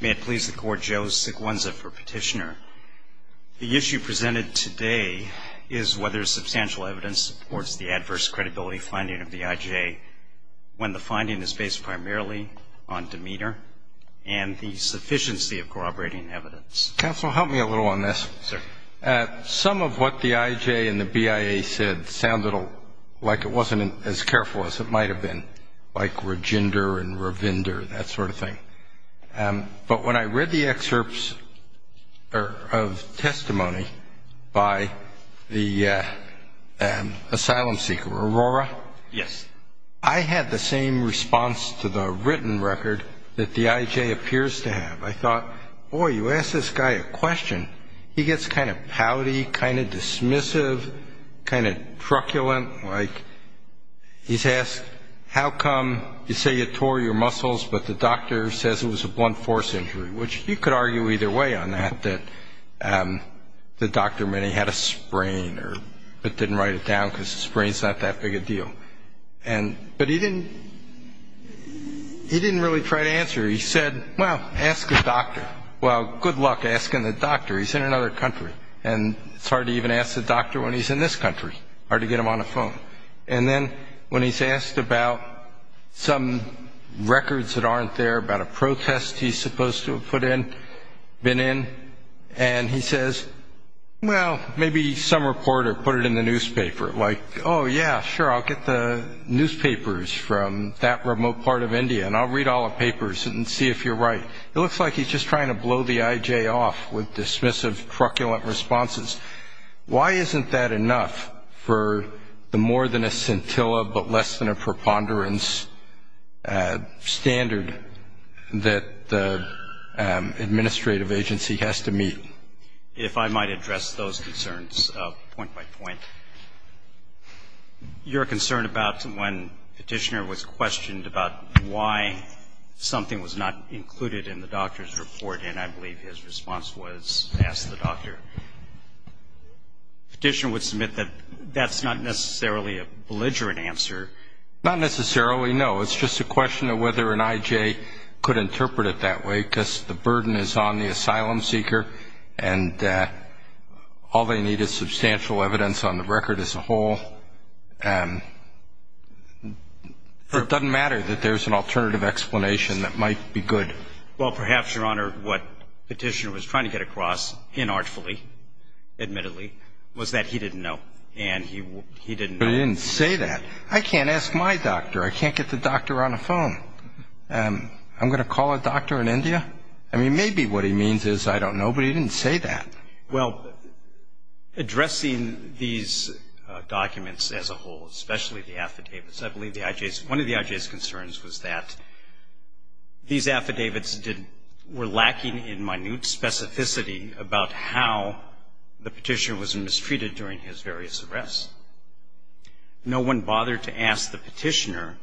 May it please the Court, Joe Sequenza for Petitioner. The issue presented today is whether substantial evidence supports the adverse credibility finding of the IJ when the finding is based primarily on demeanor and the sufficiency of corroborating evidence. Counsel, help me a little on this. Some of what the IJ and the BIA said sounded like it wasn't as careful as it might have been, like Rajinder and Ravinder, that sort of thing. But when I read the excerpts of testimony by the asylum seeker, Arora, I had the same response to the written record that the IJ appears to have. which you could argue either way on that, that the doctor may have had a sprain or didn't write it down because a sprain is not that big a deal. But he didn't really try to answer. He said, well, ask the doctor. Well, good luck asking the doctor. He's in another country, and it's hard to even ask the doctor when he's in this country. Hard to get him on the phone. And then when he's asked about some records that aren't there, about a protest he's supposed to have put in, been in, and he says, well, maybe some reporter put it in the newspaper. Like, oh, yeah, sure, I'll get the newspapers from that remote part of India, and I'll read all the papers and see if you're right. It looks like he's just trying to blow the IJ off with dismissive, truculent responses. Why isn't that enough for the more than a scintilla but less than a preponderance standard that the administrative agency has to meet? If I might address those concerns point by point. Your concern about when Petitioner was questioned about why something was not included in the doctor's report, and I believe his response was, ask the doctor. Petitioner would submit that that's not necessarily a belligerent answer. Not necessarily, no. It's just a question of whether an IJ could interpret it that way, because the burden is on the asylum seeker, and all they need is substantial evidence on the record as a whole. It doesn't matter that there's an alternative explanation that might be good. Well, perhaps, Your Honor, what Petitioner was trying to get across, inartfully, admittedly, was that he didn't know, and he didn't know. He didn't say that. I can't ask my doctor. I can't get the doctor on the phone. I'm going to call a doctor in India? I mean, maybe what he means is I don't know, but he didn't say that. Well, addressing these documents as a whole, especially the affidavits, I believe the IJ's one of the IJ's concerns was that these affidavits were lacking in minute specificity about how the Petitioner was mistreated during his various arrests. No one bothered to ask the Petitioner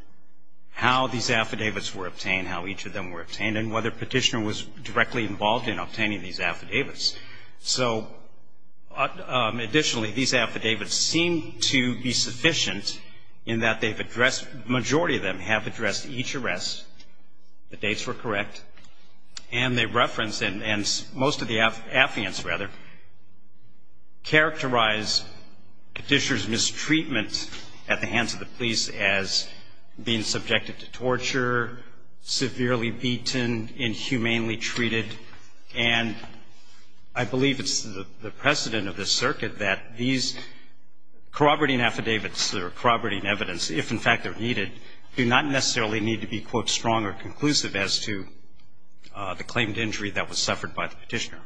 how these affidavits were obtained, how each of them were obtained, and whether Petitioner was directly involved in obtaining these affidavits. So additionally, these affidavits seem to be sufficient in that they've addressed, the majority of them have addressed each arrest. The dates were correct. And they reference, and most of the affiants, rather, characterize Petitioner's mistreatment at the hands of the police as being subjected to torture, severely beaten, inhumanely treated, and I believe it's the precedent of this circuit that these corroborating affidavits or corroborating evidence, if in fact they're needed, do not necessarily need to be, quote, strong or conclusive as to the claimed injury that was suffered by the Petitioner.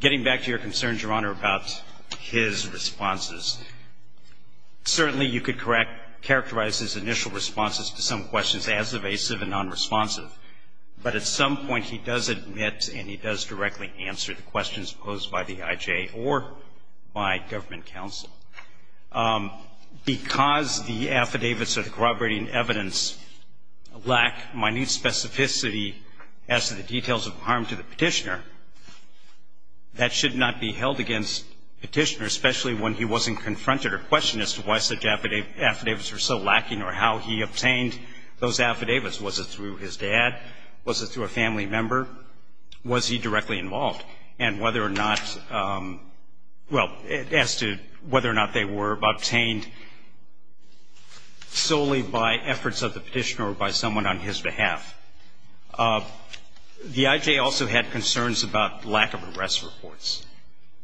Getting back to your concerns, Your Honor, about his responses, certainly you could correct, characterize his initial responses to some questions as evasive and nonresponsive, but at some point he does admit and he does directly answer the questions posed by the IJ or by government counsel. Because the affidavits or the corroborating evidence lack minute specificity as to the details of harm to the Petitioner, that should not be held against Petitioner, especially when he wasn't confronted or questioned as to why such affidavits were so lacking or how he obtained those affidavits. Was it through his dad? Was it through a family member? Was he directly involved? And whether or not, well, as to whether or not they were obtained solely by efforts of the Petitioner or by someone on his behalf? The IJ also had concerns about lack of arrest reports,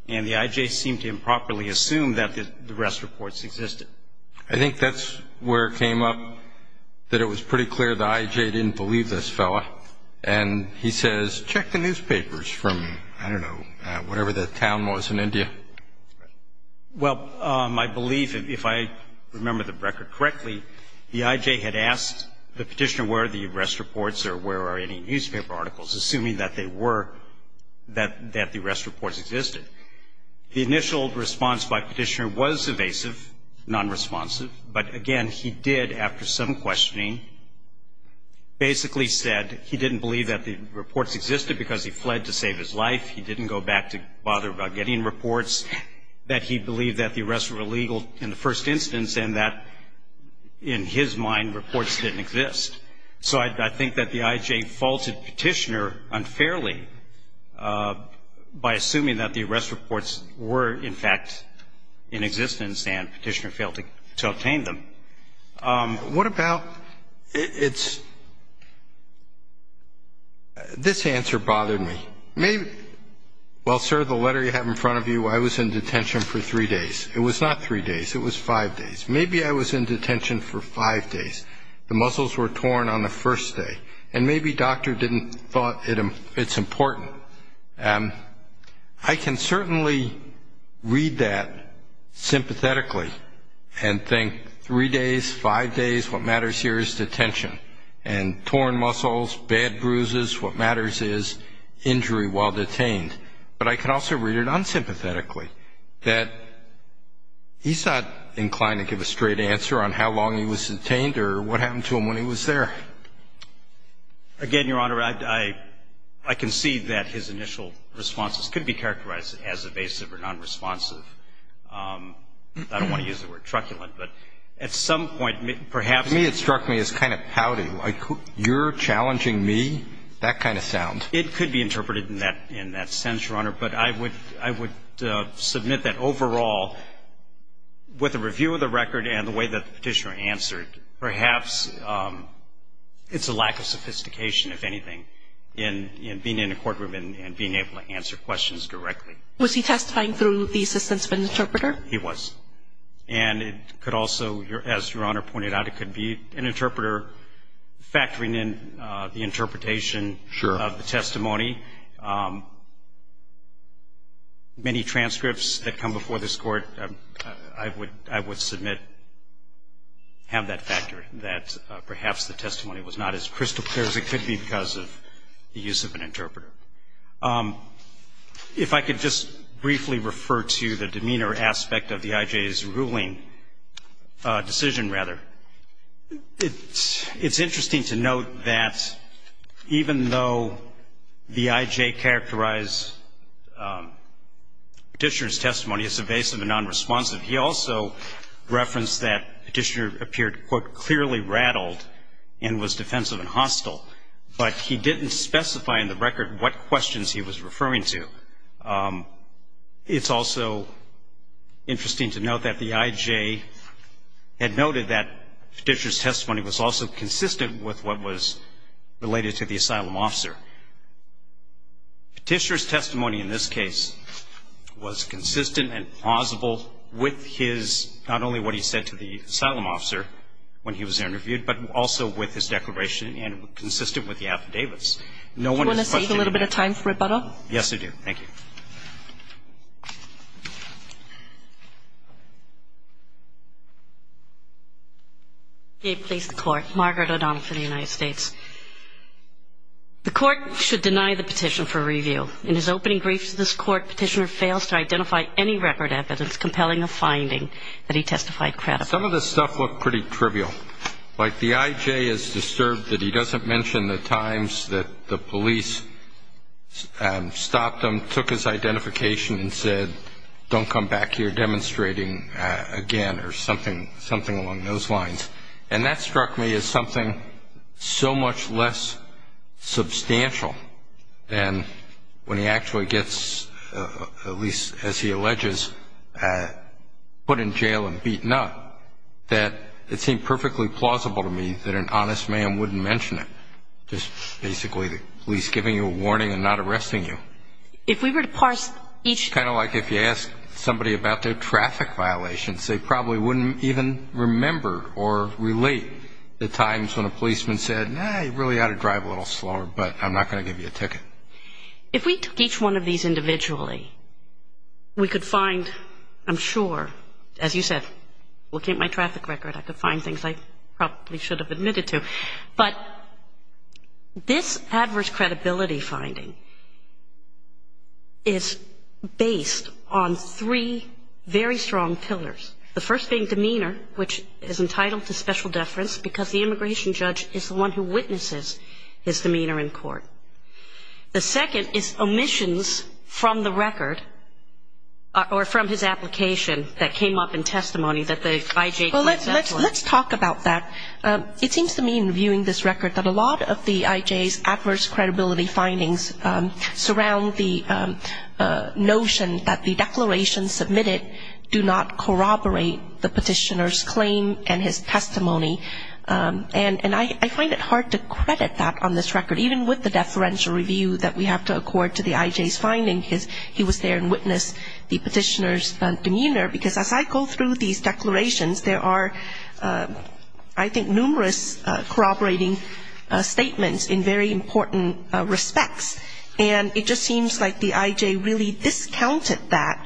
and the IJ seemed to improperly assume that the arrest reports existed. I think that's where it came up that it was pretty clear the IJ didn't believe this fella, and he says, check the newspapers from, I don't know, whatever the town was in India. Well, my belief, if I remember the record correctly, the IJ had asked the Petitioner where the arrest reports or where are any newspaper articles, assuming that they were, that the arrest reports existed. The initial response by Petitioner was evasive, nonresponsive, but, again, he did, after some questioning, basically said he didn't believe that the reports existed because he fled to save his life. He didn't go back to bother about getting reports, that he believed that the arrests were illegal in the first instance and that, in his mind, reports didn't exist. So I think that the IJ faulted Petitioner unfairly by assuming that the arrest reports were, in fact, in existence, and Petitioner failed to obtain them. What about, it's, this answer bothered me. Maybe, well, sir, the letter you have in front of you, I was in detention for three days. It was not three days. It was five days. Maybe I was in detention for five days. The muscles were torn on the first day. And maybe doctor didn't thought it's important. I can certainly read that sympathetically and think three days, five days, what matters here is detention. And torn muscles, bad bruises, what matters is injury while detained. But I can also read it unsympathetically, that he's not inclined to give a straight answer on how long he was detained or what happened to him when he was there. Again, Your Honor, I concede that his initial responses could be characterized as evasive or nonresponsive. I don't want to use the word truculent. But at some point, perhaps. To me, it struck me as kind of pouty. You're challenging me? That kind of sound. It could be interpreted in that sense, Your Honor. But I would submit that overall, with a review of the record and the way that Petitioner answered, perhaps it's a lack of sophistication, if anything, in being in a courtroom and being able to answer questions directly. Was he testifying through the assistance of an interpreter? He was. And it could also, as Your Honor pointed out, it could be an interpreter factoring in the interpretation of the testimony. Many transcripts that come before this Court, I would submit, have that factor, that perhaps the testimony was not as crystal clear as it could be because of the use of an interpreter. If I could just briefly refer to the demeanor aspect of the I.J.'s ruling, decision, rather. It's interesting to note that even though the I.J. characterized Petitioner's testimony as evasive and nonresponsive, he also referenced that Petitioner appeared, quote, clearly rattled and was defensive and hostile. But he didn't specify in the record what questions he was referring to. It's also interesting to note that the I.J. had noted that Petitioner's testimony was also consistent with what was related to the asylum officer. Petitioner's testimony in this case was consistent and plausible with his, not only what he said to the asylum officer when he was interviewed, but also with his declaration and consistent with the affidavits. Do you want to save a little bit of time for rebuttal? Yes, I do. Thank you. Margaret O'Donnell for the United States. The Court should deny the petition for review. In his opening briefs to this Court, Petitioner fails to identify any record evidence compelling a finding that he testified credibly. Some of this stuff looked pretty trivial. Like the I.J. is disturbed that he doesn't mention the times that the police stopped him, took his identification and said, don't come back here demonstrating again, or something along those lines. And that struck me as something so much less substantial than when he actually gets, at least as he alleges, put in jail and beaten up, that it seemed perfectly plausible to me that an honest man wouldn't mention it, just basically the police giving you a warning and not arresting you. If we were to parse each Kind of like if you asked somebody about their traffic violations, they probably wouldn't even remember or relate the times when a policeman said, nah, you really ought to drive a little slower, but I'm not going to give you a ticket. If we took each one of these individually, we could find, I'm sure, as you said, looking at my traffic record, I could find things I probably should have admitted to. But this adverse credibility finding is based on three very strong pillars. The first being demeanor, which is entitled to special deference because the immigration judge is the one who witnesses his demeanor in court. The second is omissions from the record or from his application that came up in testimony that the I.J. Well, let's talk about that. It seems to me in reviewing this record that a lot of the I.J.'s adverse credibility findings surround the notion that the declarations submitted do not corroborate the petitioner's claim and his testimony. And I find it hard to credit that on this record. Even with the deferential review that we have to accord to the I.J.'s finding, he was there and witnessed the petitioner's demeanor, because as I go through these declarations, there are, I think, numerous corroborating statements in very important respects. And it just seems like the I.J. really discounted that.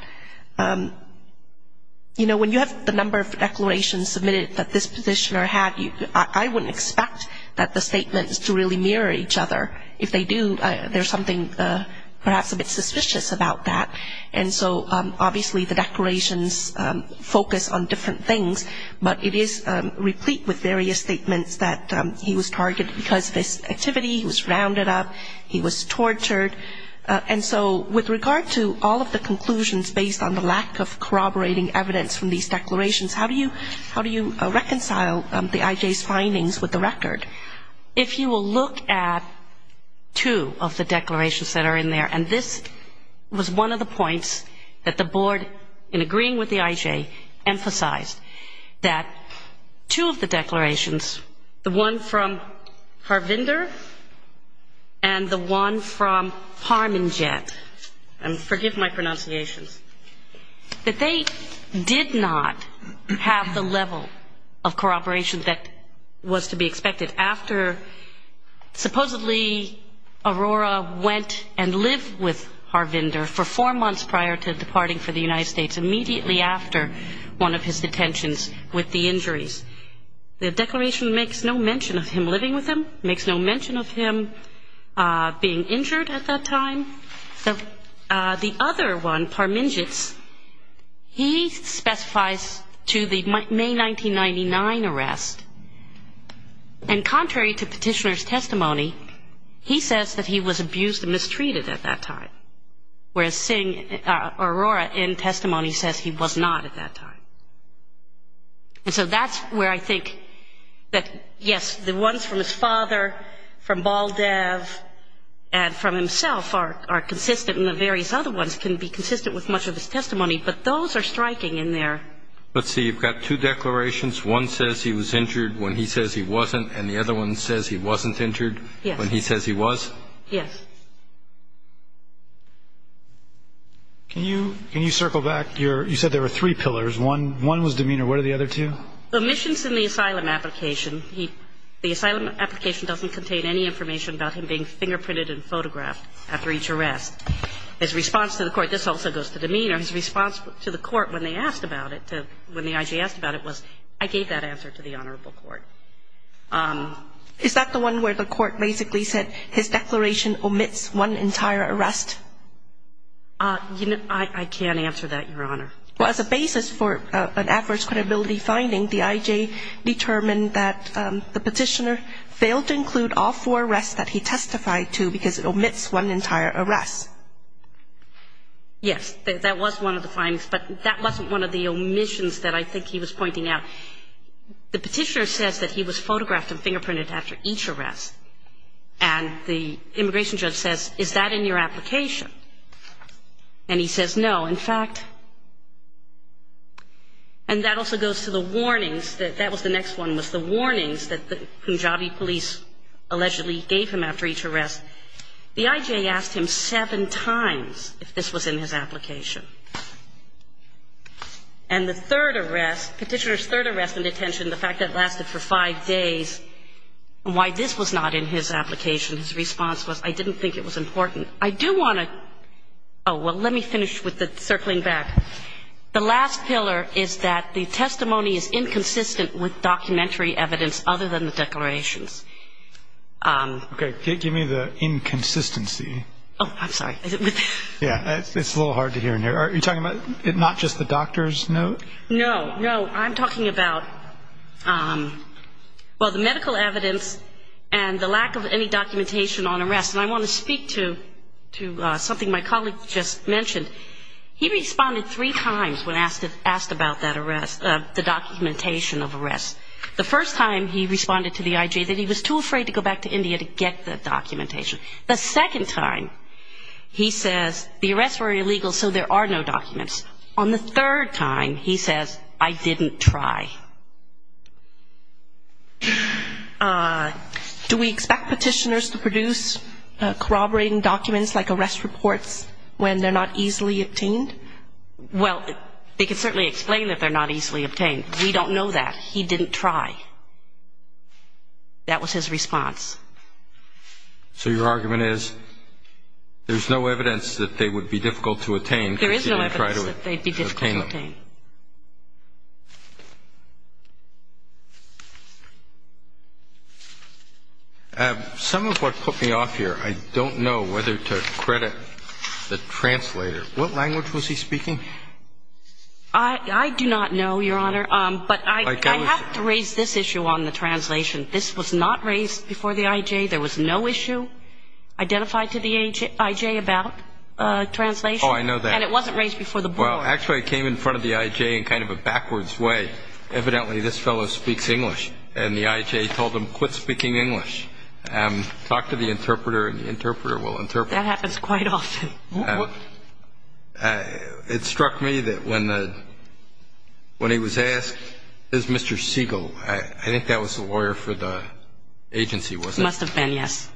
You know, when you have the number of declarations submitted that this petitioner had, I wouldn't expect that the statements to really mirror each other. If they do, there's something perhaps a bit suspicious about that. And so obviously the declarations focus on different things, but it is replete with various statements that he was targeted because of this activity, he was rounded up, he was tortured. And so with regard to all of the conclusions based on the lack of corroborating evidence from these declarations, how do you reconcile the I.J.'s findings with the record? If you will look at two of the declarations that are in there, and this was one of the points that the Board, in agreeing with the I.J., and forgive my pronunciations, that they did not have the level of corroboration that was to be expected after supposedly Aurora went and lived with Harvinder for four months prior to departing for the United States, immediately after one of his detentions with the injuries. The declaration makes no mention of him living with him, makes no mention of him being injured at that time. The other one, Parminjitz, he specifies to the May 1999 arrest, and contrary to petitioner's testimony, he says that he was abused and mistreated at that time, whereas Aurora in testimony says he was not at that time. And so that's where I think that, yes, the ones from his father, from Baldev, and from himself are consistent, and the various other ones can be consistent with much of his testimony, but those are striking in there. Let's see. You've got two declarations. One says he was injured when he says he wasn't, and the other one says he wasn't injured when he says he was? Yes. Can you circle back? You said there were three pillars. One was demeanor. What are the other two? Omissions in the asylum application. The asylum application doesn't contain any information about him being fingerprinted and photographed after each arrest. His response to the court, this also goes to demeanor, his response to the court when they asked about it, when the IG asked about it, was I gave that answer to the Honorable Court. Is that the one where the court basically said his declaration omits one entire arrest? I can't answer that, Your Honor. Well, as a basis for an adverse credibility finding, the IG determined that the petitioner failed to include all four arrests that he testified to because it omits one entire arrest. Yes. That was one of the findings, but that wasn't one of the omissions that I think he was pointing out. The petitioner says that he was photographed and fingerprinted after each arrest, and the immigration judge says, Is that in your application? And he says no. In fact, and that also goes to the warnings, that was the next one, was the warnings that the Punjabi police allegedly gave him after each arrest. The IG asked him seven times if this was in his application. And the third arrest, petitioner's third arrest in detention, the fact that it lasted for five days, and why this was not in his application, his response was, I didn't think it was important. I do want to, oh, well, let me finish with the circling back. The last pillar is that the testimony is inconsistent with documentary evidence other than the declarations. Okay. Give me the inconsistency. Oh, I'm sorry. Yeah, it's a little hard to hear in here. Are you talking about not just the doctor's note? No, no. I'm talking about, well, the medical evidence and the lack of any documentation on arrests. And I want to speak to something my colleague just mentioned. He responded three times when asked about that arrest, the documentation of arrests. The first time he responded to the IG that he was too afraid to go back to India to get the documentation. The second time he says the arrests were illegal so there are no documents. On the third time he says, I didn't try. Do we expect petitioners to produce corroborating documents like arrest reports when they're not easily obtained? Well, they can certainly explain that they're not easily obtained. We don't know that. He didn't try. That was his response. So your argument is there's no evidence that they would be difficult to attain There is no evidence that they'd be difficult to obtain. Some of what put me off here, I don't know whether to credit the translator. What language was he speaking? I do not know, Your Honor. But I have to raise this issue on the translation. This was not raised before the IG. There was no issue identified to the IG about translation. Oh, I know that. And it wasn't raised before the board. Well, actually, it came in front of the IG in kind of a backwards way. Evidently, this fellow speaks English. And the IG told him, quit speaking English. Talk to the interpreter and the interpreter will interpret. That happens quite often. It struck me that when he was asked, is Mr. Siegel, I think that was the lawyer for the agency, was it? It must have been, yes.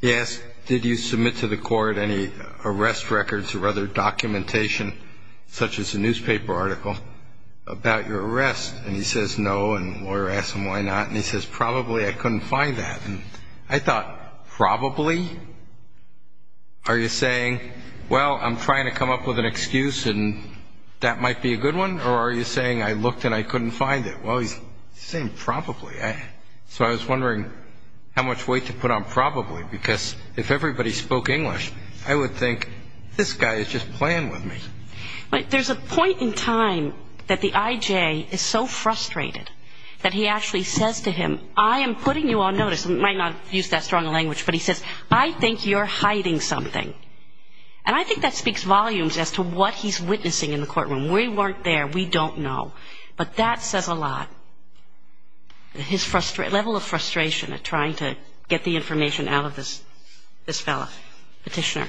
He asked, did you submit to the court any arrest records or other documentation, such as a newspaper article, about your arrest? And he says, no. And the lawyer asked him why not. And he says, probably I couldn't find that. And I thought, probably? Are you saying, well, I'm trying to come up with an excuse and that might be a good one? Or are you saying I looked and I couldn't find it? Well, he's saying probably. So I was wondering how much weight to put on probably because if everybody spoke English, I would think this guy is just playing with me. There's a point in time that the IJ is so frustrated that he actually says to him, I am putting you on notice. He might not use that strong a language, but he says, I think you're hiding something. And I think that speaks volumes as to what he's witnessing in the courtroom. We weren't there. We don't know. But that says a lot. His level of frustration at trying to get the information out of this fellow. Petitioner.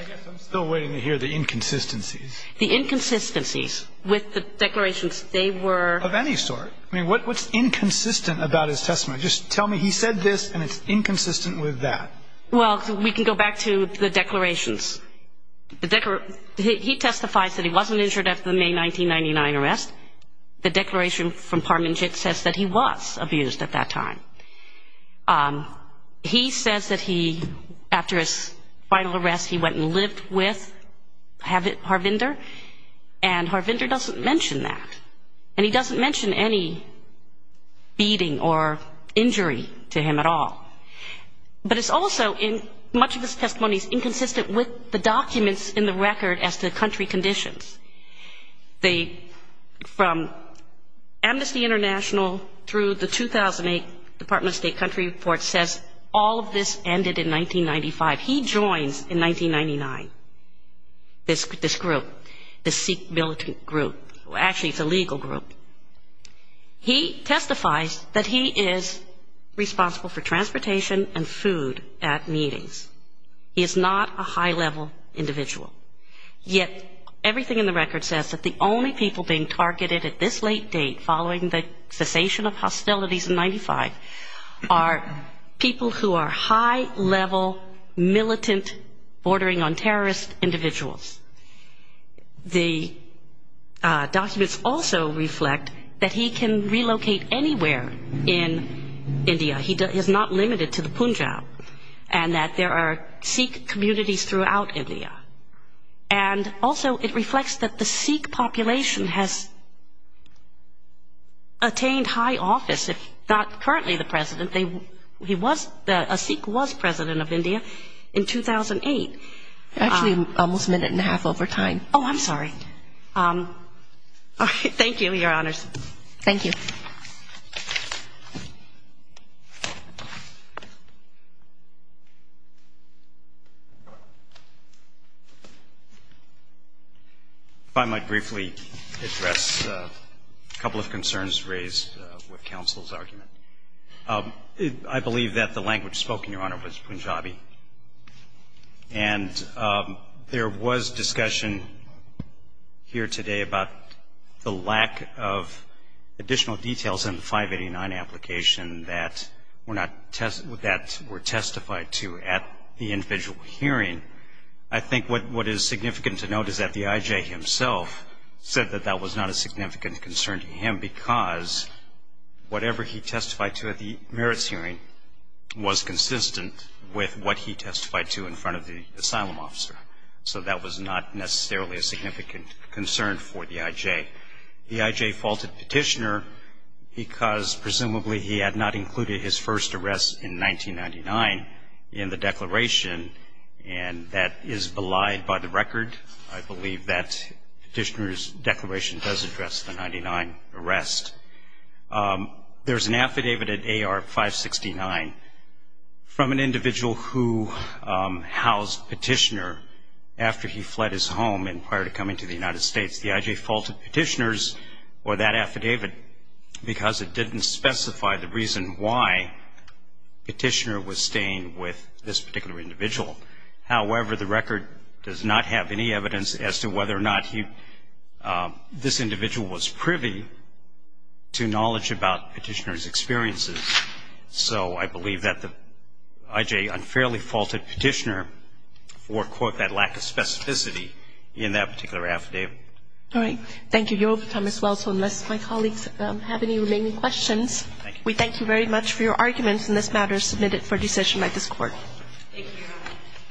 I guess I'm still waiting to hear the inconsistencies. The inconsistencies with the declarations. They were. Of any sort. I mean, what's inconsistent about his testimony? Just tell me he said this and it's inconsistent with that. Well, we can go back to the declarations. He testifies that he wasn't injured after the May 1999 arrest. The declaration from Parminjik says that he was abused at that time. He says that he, after his final arrest, he went and lived with Harvinder. And Harvinder doesn't mention that. And he doesn't mention any beating or injury to him at all. But it's also, in much of his testimony, inconsistent with the documents in the record as to country conditions. From Amnesty International through the 2008 Department of State country report says all of this ended in 1995. He joins in 1999 this group, this Sikh militant group. Actually, it's a legal group. He testifies that he is responsible for transportation and food at meetings. He is not a high-level individual. Yet everything in the record says that the only people being targeted at this late date, following the cessation of hostilities in 1995, are people who are high-level militant bordering on terrorist individuals. The documents also reflect that he can relocate anywhere in India. He is not limited to the Punjab. And that there are Sikh communities throughout India. And also it reflects that the Sikh population has attained high office, if not currently the president. He was, a Sikh was president of India in 2008. Actually, almost a minute and a half over time. Oh, I'm sorry. All right. Thank you, Your Honors. Thank you. If I might briefly address a couple of concerns raised with counsel's argument. I believe that the language spoken, Your Honor, was Punjabi. And there was discussion here today about the lack of additional details in the 589 application that were testified to at the individual hearing. I think what is significant to note is that the IJ himself said that that was not a significant concern to him because whatever he testified to at the merits hearing was consistent with what he testified to in front of the asylum officer. So that was not necessarily a significant concern for the IJ. The IJ faulted Petitioner because presumably he had not included his first arrest in 1999 in the declaration. And that is belied by the record. I believe that Petitioner's declaration does address the 99 arrest. There's an affidavit at AR 569 from an individual who housed Petitioner after he fled his home and prior to coming to the United States. The IJ faulted Petitioner's or that affidavit because it didn't specify the reason why Petitioner was staying with this particular individual. However, the record does not have any evidence as to whether or not this individual was privy to knowledge about Petitioner's experiences. So I believe that the IJ unfairly faulted Petitioner for, quote, that lack of specificity in that particular affidavit. All right. Thank you, Your Honor. Thomas Wells, unless my colleagues have any remaining questions. Thank you. We thank you very much for your arguments in this matter submitted for decision by this Court. Thank you, Your Honor.